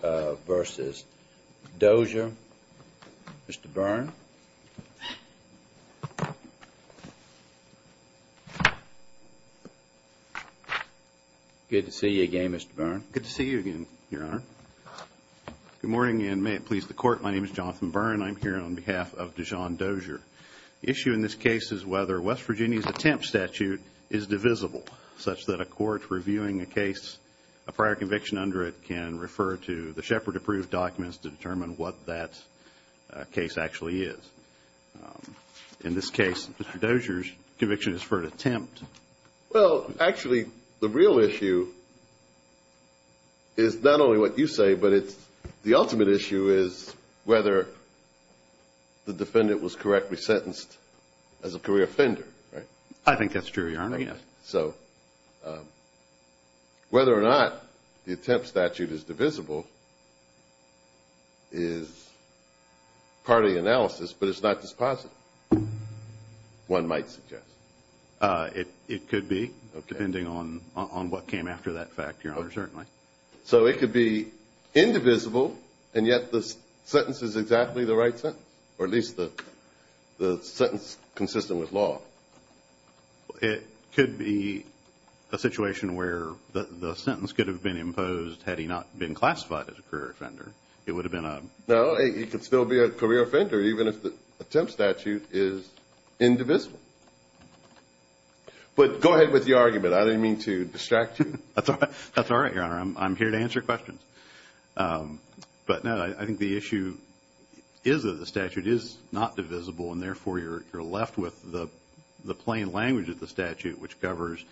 v. Dozier. Mr. Byrne. Good to see you again, Mr. Byrne. Good to see you again, Your Honor. Good morning and may it please the Court. My name is Jonathan Byrne. I'm here on behalf of Deshawn Dozier. The issue in this case is whether West Virginia's attempt statute is divisible such that a court reviewing a case, a prior conviction under it, can refer to the Shepard-approved documents to determine what that case actually is. In this case, Mr. Dozier's conviction is for an attempt. Well, actually, the real issue is not only what you say, but it's the ultimate issue is whether the defendant was correctly sentenced as a career offender, right? I think that's true, Your Honor. So whether or not the attempt statute is divisible is part of the analysis, but it's not just positive, one might suggest. It could be, depending on what came after that fact, Your Honor, certainly. So it could be indivisible, and yet the sentence is exactly the right sentence, or at least the sentence consistent with law. It could be a situation where the sentence could have been imposed had he not been classified as a career offender. It would have been a... No, he could still be a career offender even if the attempt statute is indivisible. But go ahead with your argument. I didn't mean to distract you. That's all right, Your Honor. I'm here to answer questions. But no, I think the issue is that the statute is not divisible, and therefore you're left with the plain language of the statute, which covers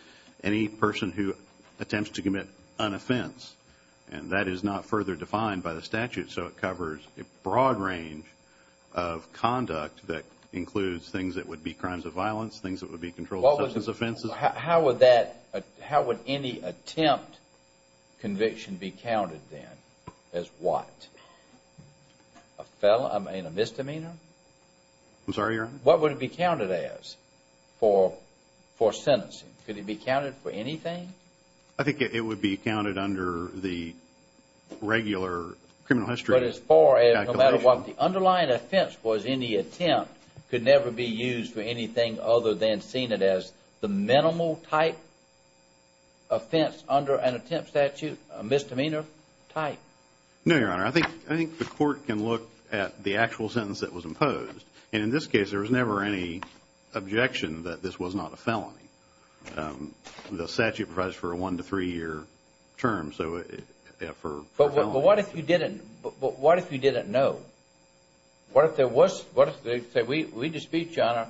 any person who attempts to commit an offense, and that is not further defined by the statute. So it covers a broad range of conduct that includes things that would be crimes of violence, things that would be controlled substance offenses. How would any attempt conviction be counted then as what? A misdemeanor? I'm sorry, Your Honor? What would it be counted as for sentencing? Could it be counted for anything? I think it would be counted under the regular criminal history calculation. But as far as no matter what the underlying offense was in the attempt could never be used for anything other than seeing it as the minimal type offense under an attempt statute, a misdemeanor type? No, Your Honor. I think the court can look at the actual sentence that was imposed, and in this case, there was never any objection that this was not a felony. The statute provides for a one to three year term, so for a felony. But what if you didn't know? What if there was, say we dispute, Your Honor,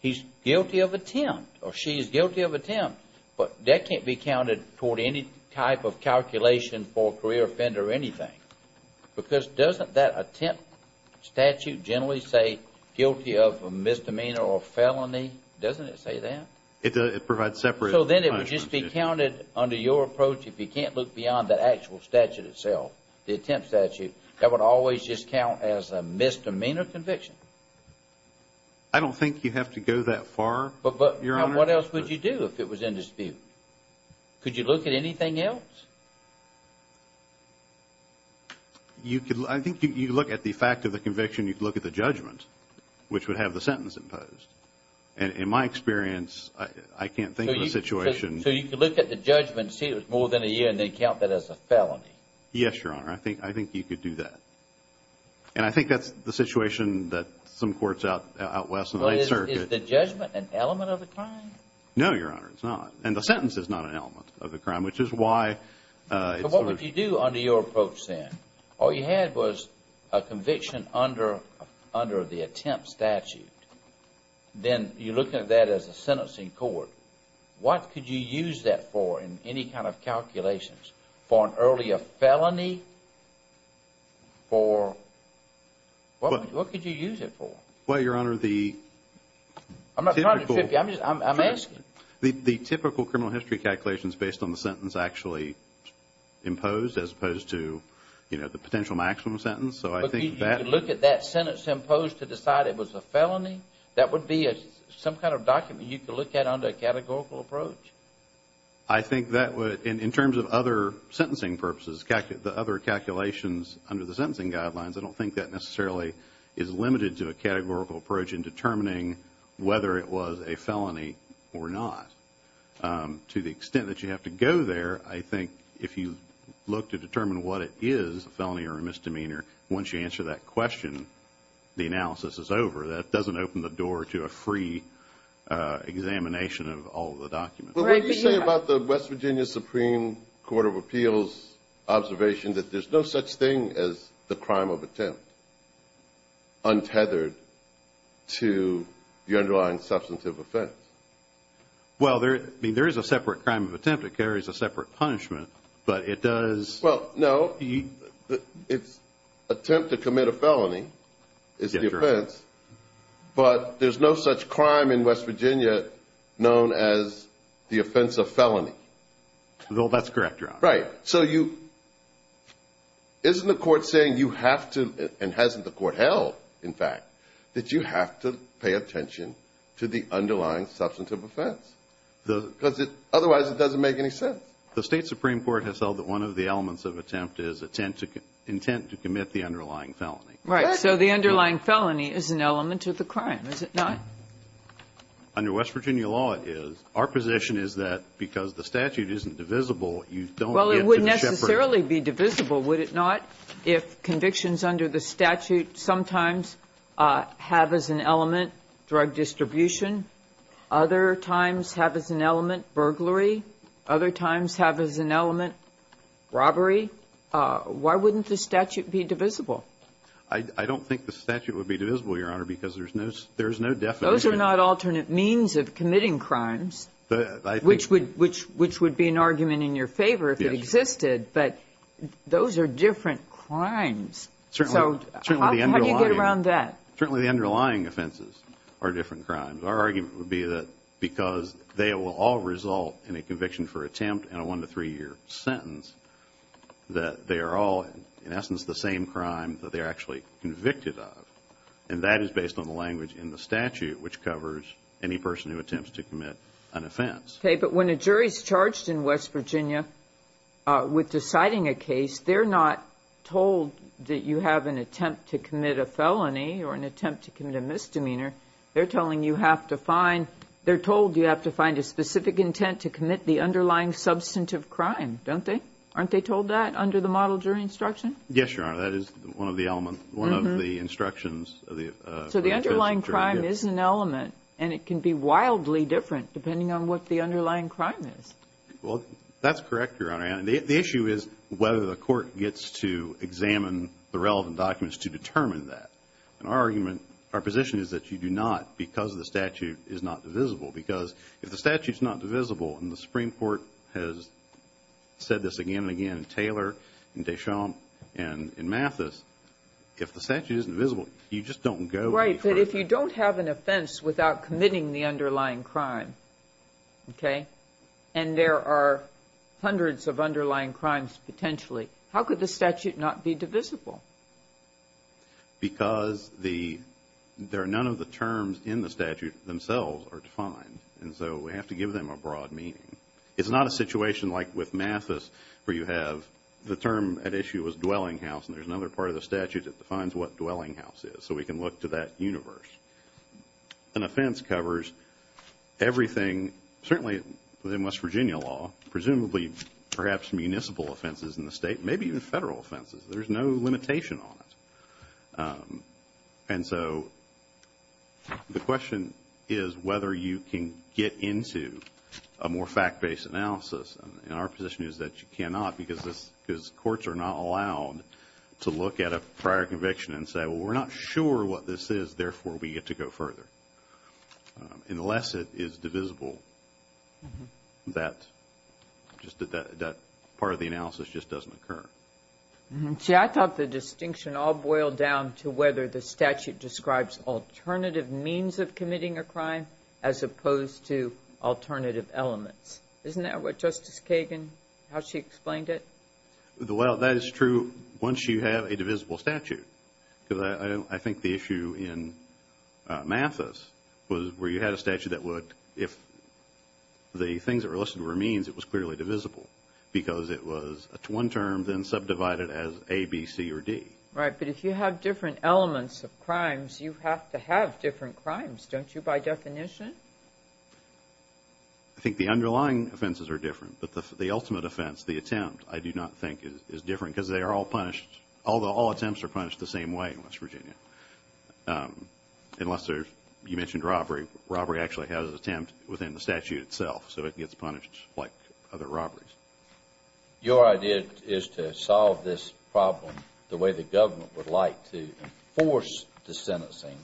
he's guilty of attempt, or she's guilty of attempt, but that can't be counted toward any type of calculation for a career offender or anything, because doesn't that attempt statute generally say guilty of a misdemeanor or felony? Doesn't it say that? It provides separate time. So then it would just be counted under your approach if you can't look beyond the actual statute itself, the attempt statute, that would always just count as a misdemeanor conviction. But what else would you do if it was in dispute? Could you look at anything else? You could, I think you could look at the fact of the conviction, you could look at the judgment, which would have the sentence imposed, and in my experience, I can't think of a situation So you could look at the judgment, see it was more than a year, and then count that as a felony? Yes, Your Honor, I think you could do that, and I think that's the situation that some courts out west in the 9th Circuit Is the judgment an element of the crime? No, Your Honor, it's not, and the sentence is not an element of the crime, which is why So what would you do under your approach then? All you had was a conviction under the attempt statute, then you look at that as a sentencing court. What could you use that for in any kind of calculations? For an earlier felony? For, what could you use it for? Well, Your Honor, the typical criminal history calculations based on the sentence actually imposed as opposed to, you know, the potential maximum sentence, so I think that You could look at that sentence imposed to decide it was a felony? That would be some kind of document you could look at under a categorical approach? I think that would, in terms of other sentencing purposes, the other calculations under the categorical approach in determining whether it was a felony or not. To the extent that you have to go there, I think if you look to determine what it is, a felony or a misdemeanor, once you answer that question, the analysis is over. That doesn't open the door to a free examination of all of the documents. But what do you say about the West Virginia Supreme Court of Appeals observation that there's no such thing as the crime of attempt untethered to the underlying substantive offense? Well, I mean, there is a separate crime of attempt. It carries a separate punishment, but it does Well, no, it's attempt to commit a felony is the offense, but there's no such crime in West Virginia known as the offense of felony. Well, that's correct, Your Honor. Right. So isn't the court saying you have to, and hasn't the court held, in fact, that you have to pay attention to the underlying substantive offense? Otherwise, it doesn't make any sense. The State Supreme Court has held that one of the elements of attempt is intent to commit the underlying felony. Right. So the underlying felony is an element of the crime, is it not? Under West Virginia law, it is. Our position is that because the statute isn't divisible, you don't get to the shepherds. Well, it wouldn't necessarily be divisible, would it not, if convictions under the statute sometimes have as an element drug distribution, other times have as an element burglary, other times have as an element robbery? Why wouldn't the statute be divisible? I don't think the statute would be divisible, Your Honor, because there's no definition. Those are not alternate means of committing crimes, which would be an argument in your favor if it existed, but those are different crimes. So how do you get around that? Certainly the underlying offenses are different crimes. Our argument would be that because they will all result in a conviction for attempt and a one-to-three-year sentence, that they are actually convicted of, and that is based on the language in the statute, which covers any person who attempts to commit an offense. Okay, but when a jury is charged in West Virginia with deciding a case, they're not told that you have an attempt to commit a felony or an attempt to commit a misdemeanor. They're telling you have to find, they're told you have to find a specific intent to commit the underlying substantive crime, don't they? Aren't they told that under the model jury instruction? Yes, Your Honor, that is one of the elements, one of the instructions of the jury. So the underlying crime is an element, and it can be wildly different depending on what the underlying crime is. Well, that's correct, Your Honor, and the issue is whether the court gets to examine the relevant documents to determine that. And our argument, our position is that you do not because the statute is not divisible, because if the statute's not divisible and the Supreme Court has said this again and again in Taylor, in Deschamps, and in Mathis, if the statute isn't divisible, you just don't go any further. Right, but if you don't have an offense without committing the underlying crime, okay, and there are hundreds of underlying crimes potentially, how could the statute not be divisible? Because there are none of the terms in the statute themselves are defined, and so we have to give them a broad meaning. It's not a situation like with Mathis where you have the term at issue is dwelling house, and there's another part of the statute that defines what dwelling house is, so we can look to that universe. An offense covers everything, certainly within West Virginia law, presumably perhaps municipal offenses in the state, maybe even federal offenses. There's no limitation on it. And so the question is whether you can get into a more fact-based analysis, and our position is that you cannot because courts are not allowed to look at a prior conviction and say, well, we're not sure what this is, therefore we get to go further, unless it is divisible. That part of the analysis just doesn't occur. See, I thought the distinction all boiled down to whether the statute describes alternative means of committing a crime as opposed to alternative elements. Isn't that what Justice Kagan, how she explained it? Well, that is true once you have a divisible statute. I think the issue in Mathis was where you had a statute that would, if the things that were listed were means, it was clearly divisible because it was one term then subdivided as A, B, C, or D. Right, but if you have different elements of crimes, you have to have different crimes, don't you, by definition? I think the underlying offenses are different, but the ultimate offense, the attempt, I do not think is different because they are all punished, although all attempts are punished the same way in West Virginia, unless there's, you mentioned robbery. Robbery actually has an attempt within the statute itself, so it gets punished like other robberies. Your idea is to solve this problem the way the government would like to enforce the sentencing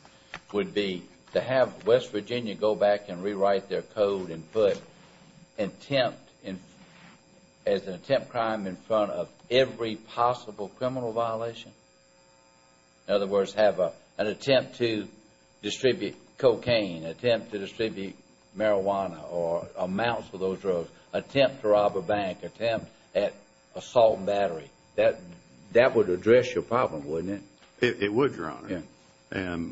would be to have West Virginia go back and rewrite their code and put attempt as an attempt crime in front of every possible criminal violation. In other words, have an attempt to distribute cocaine, attempt to distribute marijuana or amounts of those drugs, attempt to rob a bank, attempt at assault and battery. That would address your problem, wouldn't it? It would, Your Honor,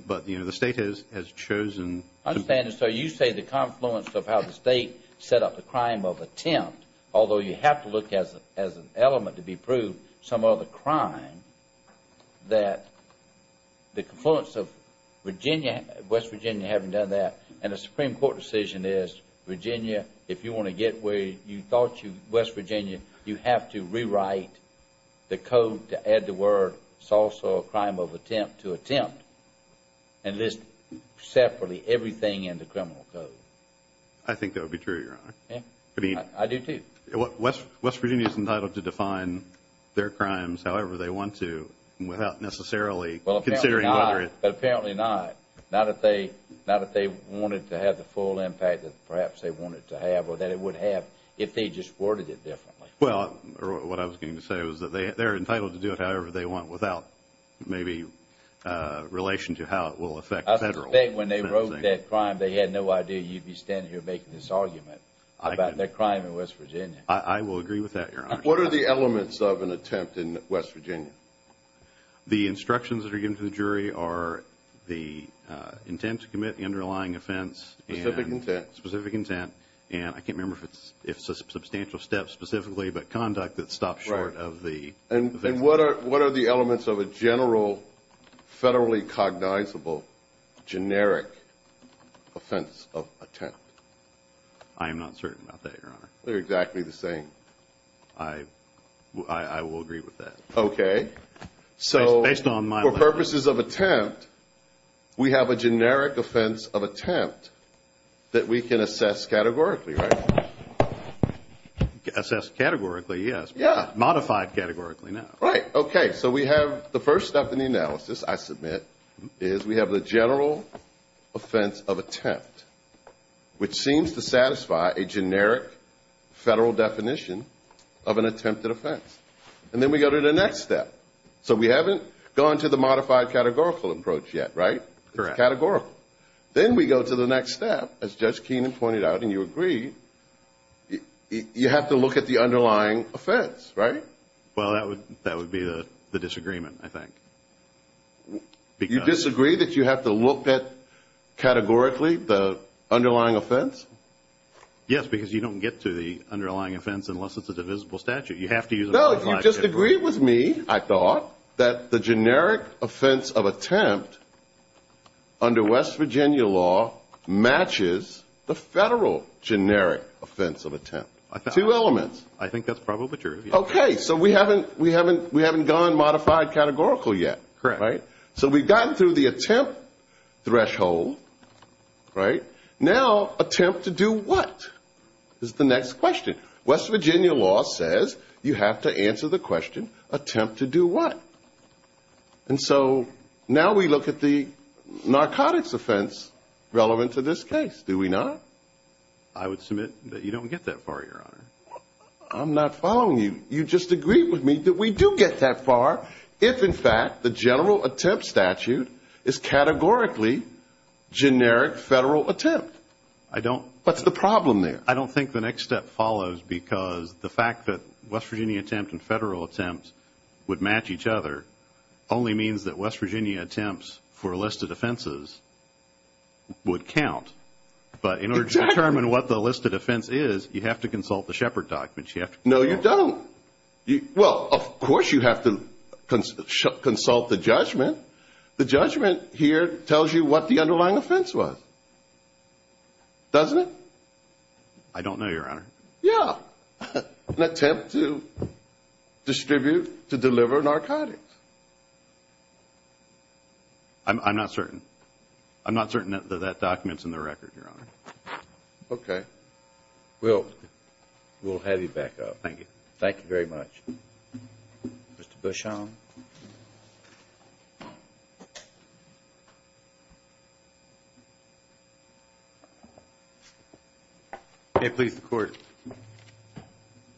but the State has chosen to... I understand, so you say the confluence of how the State set up the crime of attempt, although you have to look at it as an element to be proved, some other crime, that the confluence of West Virginia having done that and a Supreme Court decision is, Virginia, if you want to get where you thought you, West Virginia, you have to rewrite the code to add the word sawsaw crime of attempt to attempt and list separately everything in the criminal code. I think that would be true, Your Honor. I do, too. West Virginia is entitled to define their crimes however they want to without necessarily considering whether it... But apparently not, not if they wanted to have the full impact that perhaps they wanted to have or that it would have if they just worded it differently. Well, what I was going to say was that they're entitled to do it however they want without maybe relation to how it will affect the Federal. I suspect when they wrote that crime, they had no idea you'd be standing here making this argument about their crime in West Virginia. I will agree with that, Your Honor. What are the elements of an attempt in West Virginia? The instructions that are given to the jury are the intent to commit the underlying offense. Specific intent. Specific intent. And I can't remember if it's a substantial step specifically, but conduct that stops short of the offense. And what are the elements of a general, federally cognizable, generic offense of attempt? I am not certain about that, Your Honor. They're exactly the same. I will agree with that. Okay. So, for purposes of attempt, we have a generic offense of attempt that we can assess categorically, right? Assess categorically, yes. Yeah. Modified categorically, no. Right. Okay. So, we have the first step in the analysis, I submit, is we have the general offense of attempt, which seems to satisfy a generic Federal definition of an attempted offense. And then we go to the next step. So, we haven't gone to the modified categorical approach yet, right? Correct. It's categorical. Then we go to the next step, as Judge Keenan pointed out, and you agree, you have to look at the underlying offense, right? Well, that would be the disagreement, I think. You disagree that you have to look at, categorically, the underlying offense? Yes, because you don't get to the underlying offense unless it's a divisible statute. You have to use a modified statute. No, you just agreed with me, I thought, that the generic offense of attempt, under West Virginia law, matches the Federal generic offense of attempt. Two elements. I think that's probably true. Okay. So, we haven't gone modified categorical yet, right? Correct. So, we've gotten through the attempt threshold, right? Now, attempt to do what, is the next question. West Virginia law says you have to answer the question, attempt to do what? And so, now we look at the narcotics offense relevant to this case. Do we not? I would submit that you don't get that far, Your Honor. I'm not following you. You just agreed with me that we do get that far if, in fact, the general attempt statute is categorically generic Federal attempt. I don't. What's the problem there? I don't think the next step follows because the fact that West Virginia attempt and Federal attempt would match each other, only means that West Virginia attempts for a list of offenses would count. Exactly. But in order to determine what the list of offense is, you have to consult the Shepard documents. No, you don't. Well, of course you have to consult the judgment. The judgment here tells you what the underlying offense was. Doesn't it? I don't know, Your Honor. Yeah. An attempt to distribute, to deliver narcotics. I'm not certain. I'm not certain that that document's in the record, Your Honor. Okay. Well, we'll have you back up. Thank you. Thank you very much. Mr. Bushong? May it please the Court. Good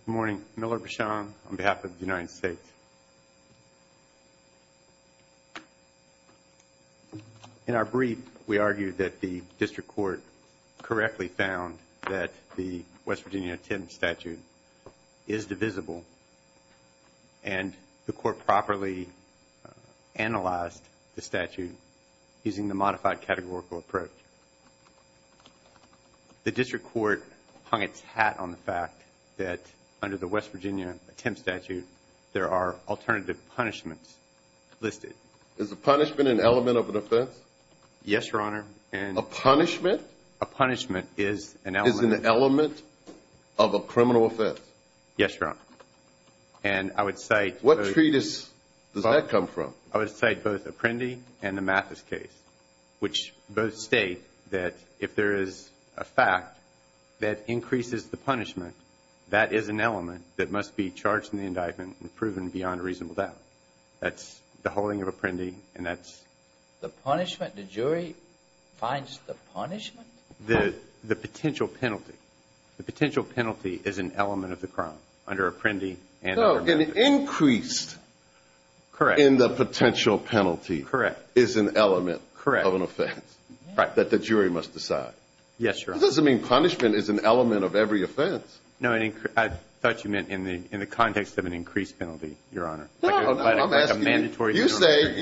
morning. Miller Bushong on behalf of the United States. In our brief, we argued that the district court correctly found that the West Virginia attempt statute is divisible, and the court properly analyzed the statute using the modified categorical approach. The district court hung its hat on the fact that under the West Virginia attempt statute, there are alternative punishments listed. Is the punishment an element of an offense? Yes, Your Honor. A punishment? A punishment is an element. Is an element of a criminal offense? Yes, Your Honor. And I would cite... What treatise does that come from? I would cite both Apprendi and the Mathis case, which both state that if there is a fact that increases the punishment, that is an element that must be charged in the indictment and proven beyond a reasonable doubt. That's the holding of Apprendi, and that's... The punishment? The jury finds the punishment? The potential penalty. Increased... Correct.... in the potential penalty... Correct.... is an element... Correct.... of an offense... Right.... that the jury must decide. Yes, Your Honor. That doesn't mean punishment is an element of every offense. No, I thought you meant in the context of an increased penalty, Your Honor. No, I'm asking you... Like a mandatory... You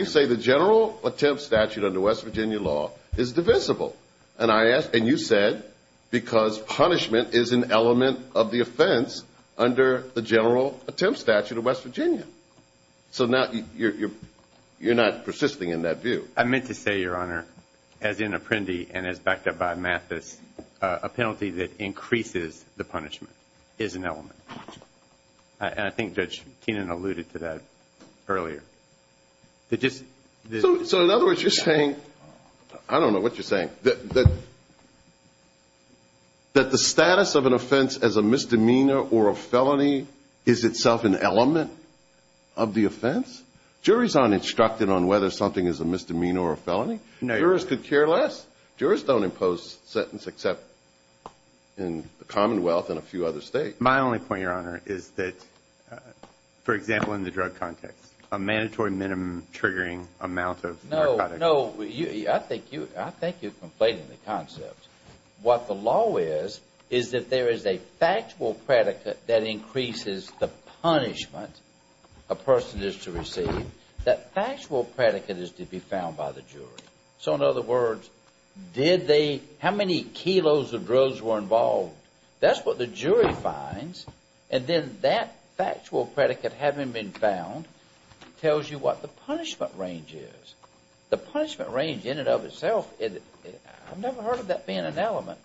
say the general attempt statute under West Virginia law is divisible, and you said because punishment is an element of the offense under the general attempt statute of West Virginia. So now you're not persisting in that view. I meant to say, Your Honor, as in Apprendi and as backed up by Mathis, a penalty that increases the punishment is an element. And I think Judge Keenan alluded to that earlier. So in other words, you're saying... I don't know what you're saying. That the status of an offense as a misdemeanor or a felony is itself an element of the offense? Juries aren't instructed on whether something is a misdemeanor or a felony. Jurors could care less. Jurors don't impose a sentence except in the Commonwealth and a few other states. My only point, Your Honor, is that, for example, in the drug context, what the law is, is that there is a factual predicate that increases the punishment a person is to receive. That factual predicate is to be found by the jury. So in other words, did they... how many kilos of drugs were involved? That's what the jury finds. And then that factual predicate, having been found, tells you what the punishment range is. The punishment range in and of itself, I've never heard of that being an element.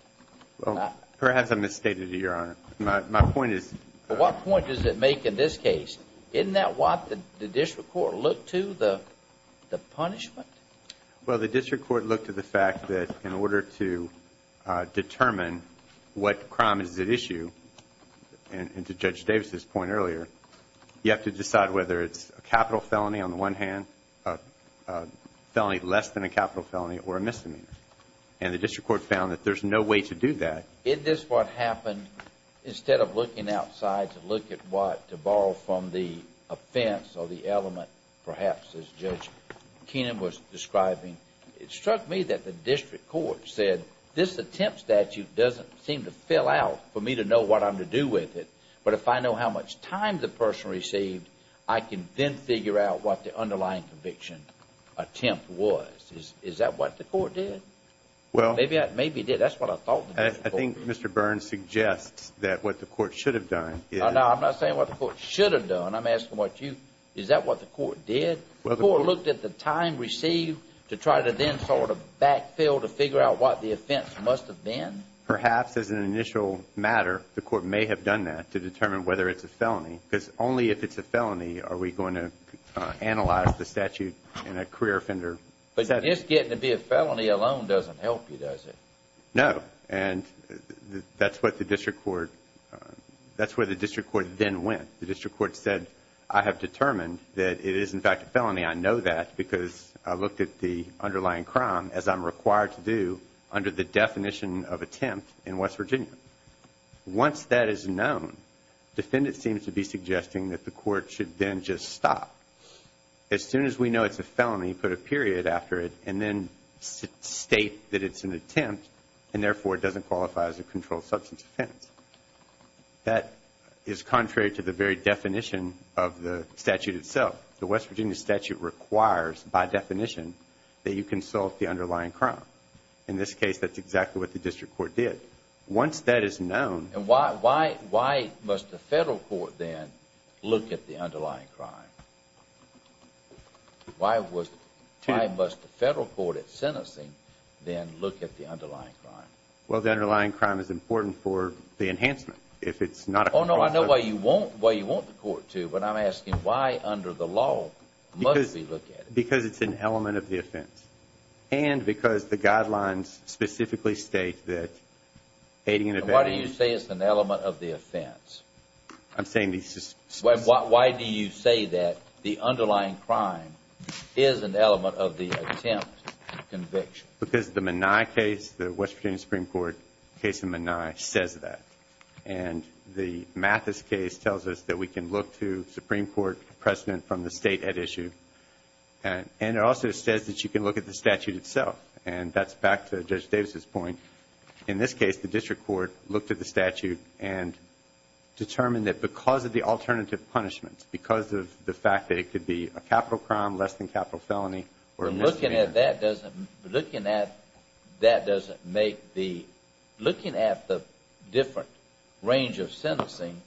Perhaps I misstated you, Your Honor. My point is... What point does it make in this case? Isn't that what the district court looked to, the punishment? Well, the district court looked to the fact that in order to determine what crime is at issue, and to Judge Davis' point earlier, you have to decide whether it's a capital felony on the one hand, a felony less than a capital felony, or a misdemeanor. And the district court found that there's no way to do that. Isn't this what happened, instead of looking outside to look at what... to borrow from the offense or the element, perhaps, as Judge Keenan was describing? It struck me that the district court said, this attempt statute doesn't seem to fill out for me to know what I'm to do with it. But if I know how much time the person received, I can then figure out what the underlying conviction attempt was. Is that what the court did? Well... Maybe it did. That's what I thought the district court did. I think Mr. Burns suggests that what the court should have done is... No, I'm not saying what the court should have done. I'm asking what you... Is that what the court did? Well, the court... The court looked at the time received to try to then sort of backfill to figure out what the offense must have been? Perhaps, as an initial matter, the court may have done that to determine whether it's a felony. Because only if it's a felony are we going to analyze the statute in a career offender... But just getting to be a felony alone doesn't help you, does it? No. And that's what the district court... That's where the district court then went. The district court said, I have determined that it is, in fact, a felony. I know that because I looked at the underlying crime, as I'm required to do, under the definition of attempt in West Virginia. Once that is known, the defendant seems to be suggesting that the court should then just stop. As soon as we know it's a felony, put a period after it and then state that it's an attempt... And, therefore, it doesn't qualify as a controlled substance offense. That is contrary to the very definition of the statute itself. The West Virginia statute requires, by definition, that you consult the underlying crime. In this case, that's exactly what the district court did. Once that is known... And why must the federal court then look at the underlying crime? Why must the federal court at sentencing then look at the underlying crime? Well, the underlying crime is important for the enhancement. If it's not... Oh, no, I know why you want the court to, but I'm asking why, under the law, must we look at it? Because it's an element of the offense. And because the guidelines specifically state that aiding and abetting... Why do you say it's an element of the offense? I'm saying these... Why do you say that the underlying crime is an element of the attempt conviction? Because the Minai case, the West Virginia Supreme Court case in Minai, says that. And the Mathis case tells us that we can look to the Supreme Court precedent from the State at issue. And it also says that you can look at the statute itself. And that's back to Judge Davis' point. In this case, the district court looked at the statute and determined that because of the alternative punishments, because of the fact that it could be a capital crime, less than capital felony, or a misdemeanor... Looking at that doesn't make the... Looking at the different range of sentencing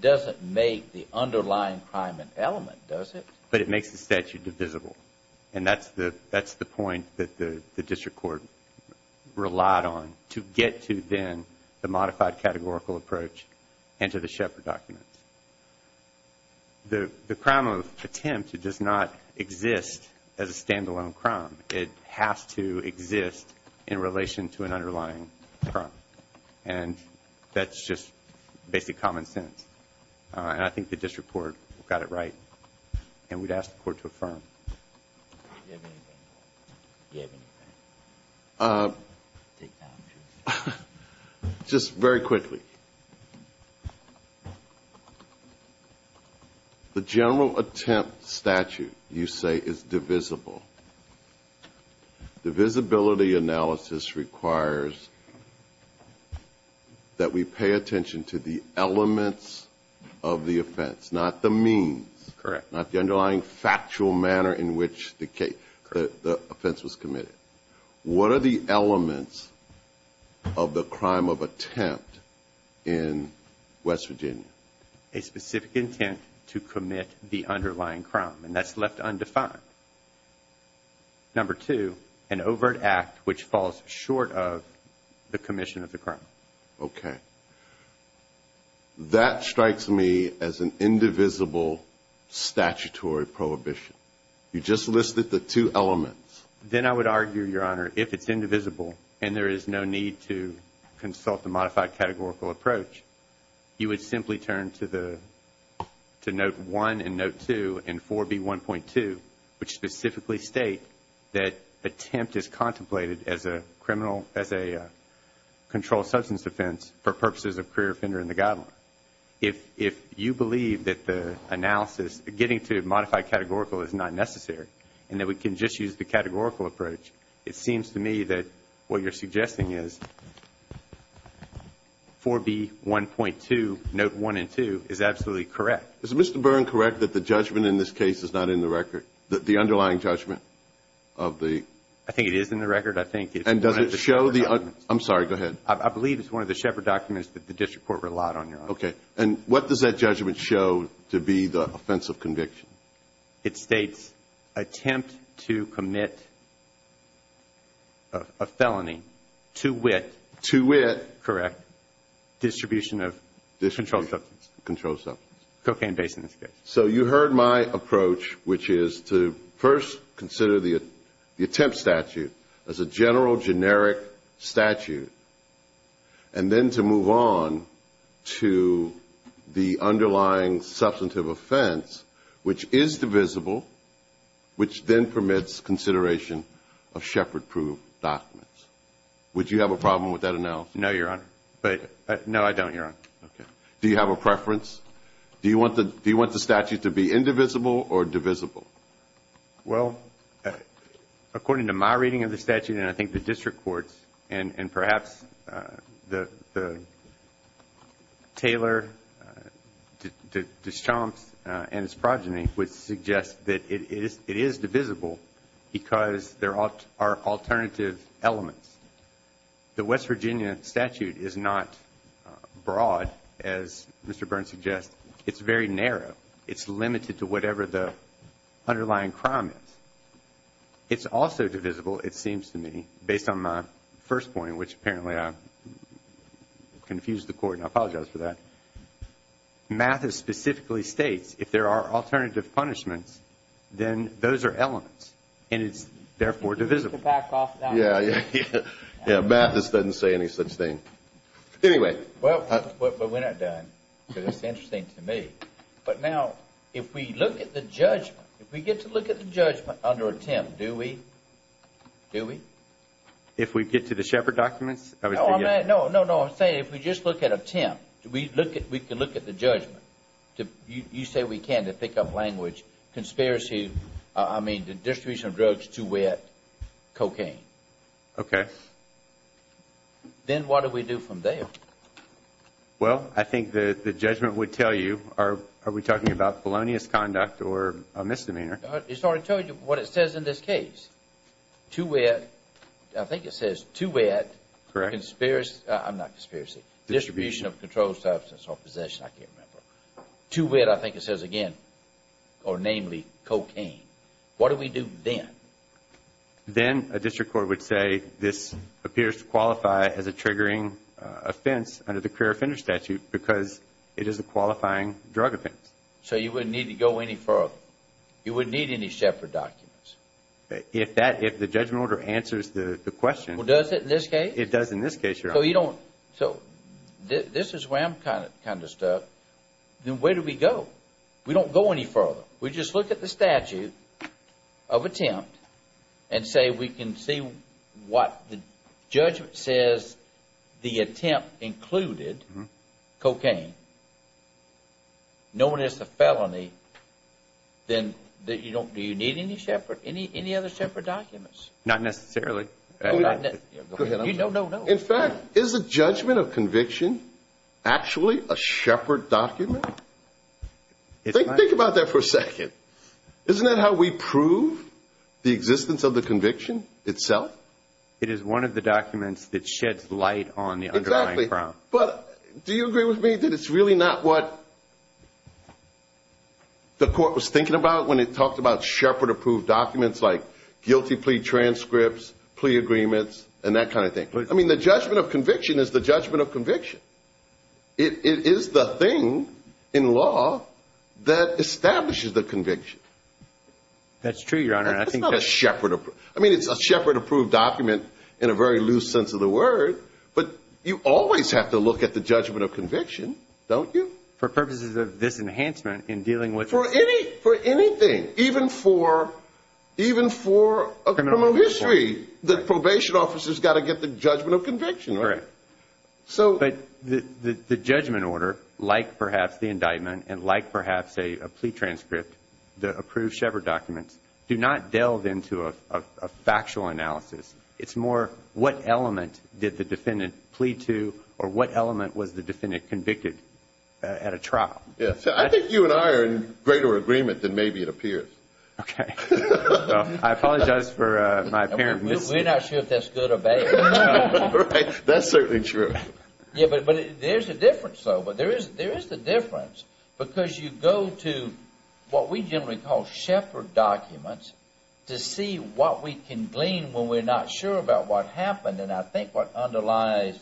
doesn't make the underlying crime an element, does it? But it makes the statute divisible. And that's the point that the district court relied on to get to, then, the modified categorical approach and to the Shepard documents. The crime of attempt, it does not exist as a stand-alone crime. It has to exist in relation to an underlying crime. And that's just basic common sense. And I think the district court got it right. And we'd ask the court to affirm. Do you have anything? Just very quickly. The general attempt statute, you say, is divisible. Divisibility analysis requires that we pay attention to the elements of the offense, not the means. Correct. Not the underlying factual manner in which the offense was committed. What are the elements of the crime of attempt in West Virginia? A specific intent to commit the underlying crime. And that's left undefined. Number two, an overt act which falls short of the commission of the crime. Okay. That strikes me as an indivisible statutory prohibition. You just listed the two elements. Then I would argue, Your Honor, if it's indivisible and there is no need to consult the modified categorical approach, you would simply turn to note one and note two in 4B1.2, which specifically state that attempt is contemplated as a controlled substance offense for purposes of career offender in the guideline. If you believe that the analysis, getting to modified categorical is not necessary and that we can just use the categorical approach, it seems to me that what you're suggesting is 4B1.2, note one and two, is absolutely correct. Is Mr. Byrne correct that the judgment in this case is not in the record, the underlying judgment of the? I think it is in the record. I think it's one of the Shepard documents. I'm sorry, go ahead. I believe it's one of the Shepard documents that the district court relied on, Your Honor. Okay. And what does that judgment show to be the offensive conviction? It states attempt to commit a felony to wit. To wit. Correct. Distribution of controlled substance. Controlled substance. Cocaine-based in this case. So you heard my approach, which is to first consider the attempt statute as a general generic statute and then to move on to the underlying substantive offense, which is divisible, which then permits consideration of Shepard-proof documents. Would you have a problem with that analysis? No, Your Honor. No, I don't, Your Honor. Okay. Do you have a preference? Do you want the statute to be indivisible or divisible? Well, according to my reading of the statute and I think the district court's and perhaps the Taylor, Deschamps, and his progeny would suggest that it is divisible because there are alternative elements. The West Virginia statute is not broad, as Mr. Burns suggests. It's very narrow. It's limited to whatever the underlying crime is. It's also divisible, it seems to me, based on my first point, which apparently I confused the court and I apologize for that. Mathis specifically states if there are alternative punishments, then those are elements and it's therefore divisible. Yeah, yeah, yeah. Mathis doesn't say any such thing. Anyway. Well, we're not done because it's interesting to me. But now if we look at the judgment, if we get to look at the judgment under attempt, do we? Do we? If we get to the Shepherd documents? No, no, no. I'm saying if we just look at attempt, we can look at the judgment. You say we can to pick up language. Conspiracy, I mean the distribution of drugs, too wet, cocaine. Okay. Then what do we do from there? Well, I think the judgment would tell you, are we talking about felonious conduct or a misdemeanor? It's already told you what it says in this case. Too wet, I think it says too wet. Correct. Conspiracy, I'm not conspiracy. Distribution of controlled substance or possession, I can't remember. Too wet, I think it says again, or namely cocaine. What do we do then? Then a district court would say this appears to qualify as a triggering offense under the career offender statute because it is a qualifying drug offense. So you wouldn't need to go any further. You wouldn't need any Shepherd documents. If the judgment order answers the question. Well, does it in this case? It does in this case, Your Honor. So this is where I'm kind of stuck. Then where do we go? We don't go any further. We just look at the statute of attempt and say we can see what the judgment says the attempt included, cocaine, known as the felony, then do you need any other Shepherd documents? Not necessarily. Go ahead. No, no, no. In fact, is the judgment of conviction actually a Shepherd document? Think about that for a second. Isn't that how we prove the existence of the conviction itself? It is one of the documents that sheds light on the underlying crime. Exactly. But do you agree with me that it's really not what the court was thinking about when it talked about Shepherd approved documents like guilty plea transcripts, plea agreements, and that kind of thing? I mean, the judgment of conviction is the judgment of conviction. It is the thing in law that establishes the conviction. That's true, Your Honor. That's not a Shepherd. I mean, it's a Shepherd approved document in a very loose sense of the word. But you always have to look at the judgment of conviction, don't you? For purposes of this enhancement in dealing with. For anything, even for a criminal history, the probation officer's got to get the judgment of conviction, right? Correct. But the judgment order, like perhaps the indictment and like perhaps a plea transcript, the approved Shepherd documents, do not delve into a factual analysis. It's more what element did the defendant plead to or what element was the defendant convicted at a trial? Yes. I think you and I are in greater agreement than maybe it appears. Okay. I apologize for my apparent mis- We're not sure if that's good or bad. That's certainly true. Yeah, but there's a difference, though. But there is the difference because you go to what we generally call Shepherd documents to see what we can glean when we're not sure about what happened. And I think what underlies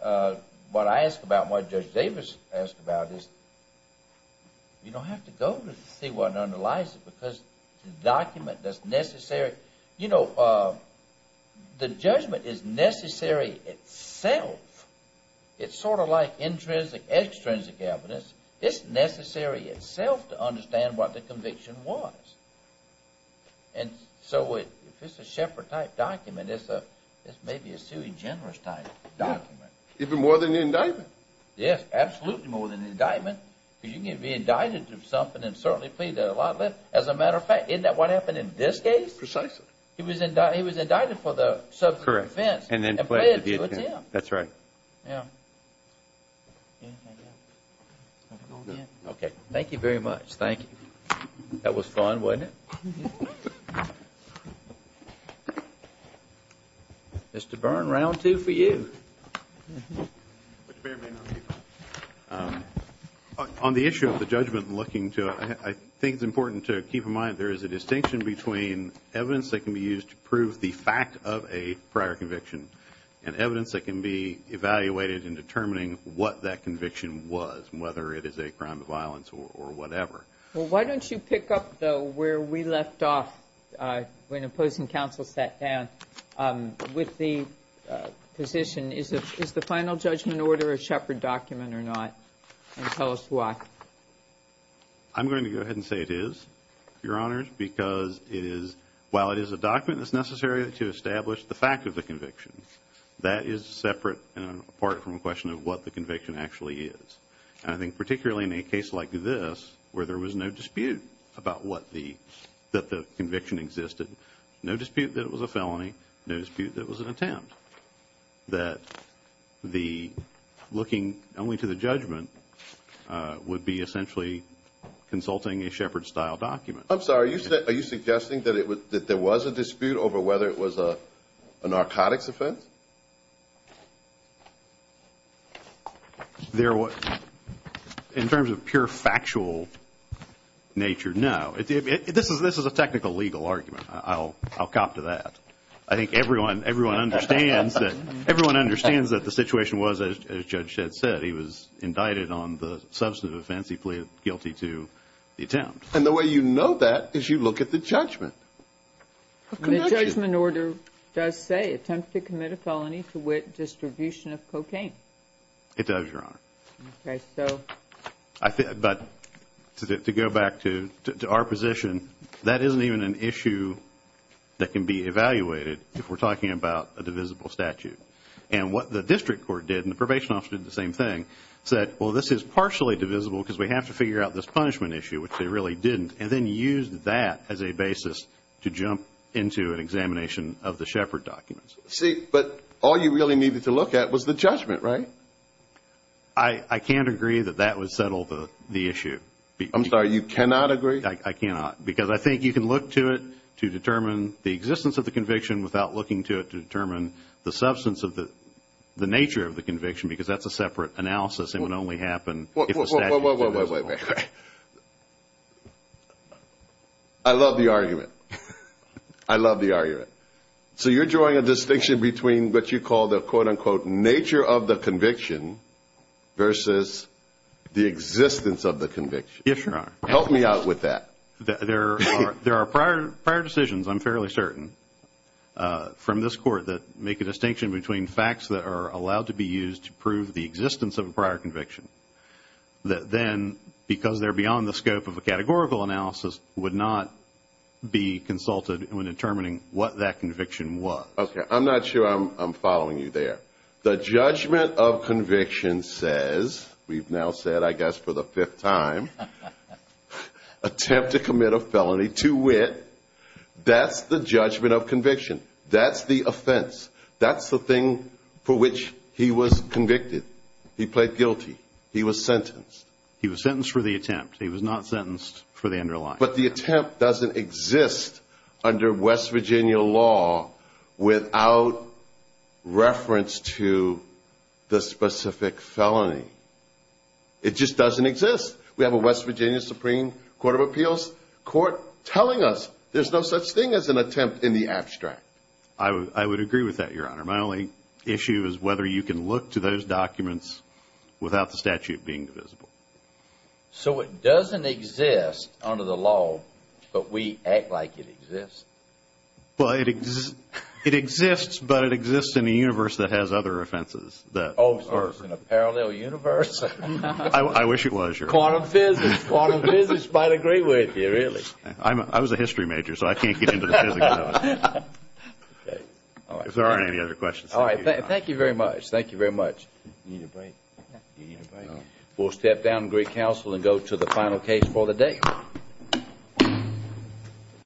what I ask about and what Judge Davis asked about is you don't have to go to see what underlies it because the document that's necessary. You know, the judgment is necessary itself. It's sort of like intrinsic, extrinsic evidence. It's necessary itself to understand what the conviction was. And so if it's a Shepherd-type document, it's maybe a sui generis-type document. Even more than the indictment. Yes, absolutely more than the indictment because you can be indicted through something and certainly plead a lot less. As a matter of fact, isn't that what happened in this case? Precisely. He was indicted for the substance of offense and pled guilty. That's right. Yeah. Okay. Thank you very much. Thank you. That was fun, wasn't it? Mr. Byrne, round two for you. On the issue of the judgment and looking to it, I think it's important to keep in mind there is a distinction between evidence that can be used to prove the fact of a prior conviction and evidence that can be evaluated in determining what that conviction was, whether it is a crime of violence or whatever. Well, why don't you pick up, though, where we left off when opposing counsel sat down with the position. Is the final judgment order a Shepherd document or not? And tell us why. I'm going to go ahead and say it is, Your Honors, because while it is a document, it's necessary to establish the fact of the conviction. That is separate and apart from a question of what the conviction actually is. And I think particularly in a case like this where there was no dispute that the conviction existed, no dispute that it was a felony, no dispute that it was an attempt, that the looking only to the judgment would be essentially consulting a Shepherd-style document. I'm sorry. Are you suggesting that there was a dispute over whether it was a narcotics offense? In terms of pure factual nature, no. This is a technical legal argument. I'll cop to that. I think everyone understands that the situation was, as Judge Shedd said, he was indicted on the substantive offense, he pleaded guilty to the attempt. And the way you know that is you look at the judgment. The judgment order does say attempt to commit a felony to wit, distribution of cocaine. It does, Your Honor. Okay, so. But to go back to our position, that isn't even an issue that can be evaluated if we're talking about a divisible statute. And what the district court did, and the probation office did the same thing, said, well, this is partially divisible because we have to figure out this punishment issue, which they really didn't, and then used that as a basis to jump into an examination of the Shepherd documents. See, but all you really needed to look at was the judgment, right? I can't agree that that would settle the issue. I'm sorry, you cannot agree? I cannot, because I think you can look to it to determine the existence of the conviction without looking to it to determine the substance of the nature of the conviction, because that's a separate analysis and would only happen if the statute was divisible. Wait, wait, wait, wait. I love the argument. I love the argument. So you're drawing a distinction between what you call the, quote, unquote, nature of the conviction versus the existence of the conviction. Yes, Your Honor. Help me out with that. There are prior decisions, I'm fairly certain, from this court that make a distinction between facts that are allowed to be used to prove the existence of a prior conviction, that then, because they're beyond the scope of a categorical analysis, would not be consulted when determining what that conviction was. Okay, I'm not sure I'm following you there. The judgment of conviction says, we've now said, I guess, for the fifth time, attempt to commit a felony to wit, that's the judgment of conviction. That's the offense. That's the thing for which he was convicted. He pled guilty. He was sentenced. He was sentenced for the attempt. He was not sentenced for the underlying. But the attempt doesn't exist under West Virginia law without reference to the specific felony. It just doesn't exist. We have a West Virginia Supreme Court of Appeals court telling us there's no such thing as an attempt in the abstract. I would agree with that, Your Honor. My only issue is whether you can look to those documents without the statute being visible. So it doesn't exist under the law, but we act like it exists? Well, it exists, but it exists in a universe that has other offenses. Oh, so it's in a parallel universe? I wish it was, Your Honor. Quantum physics. Quantum physics might agree with you, really. I was a history major, so I can't get into the physics. If there aren't any other questions, thank you, Your Honor. All right. Thank you very much. Thank you very much. Do you need a break? Do you need a break? No. We'll step down to great counsel and go to the final case for the day.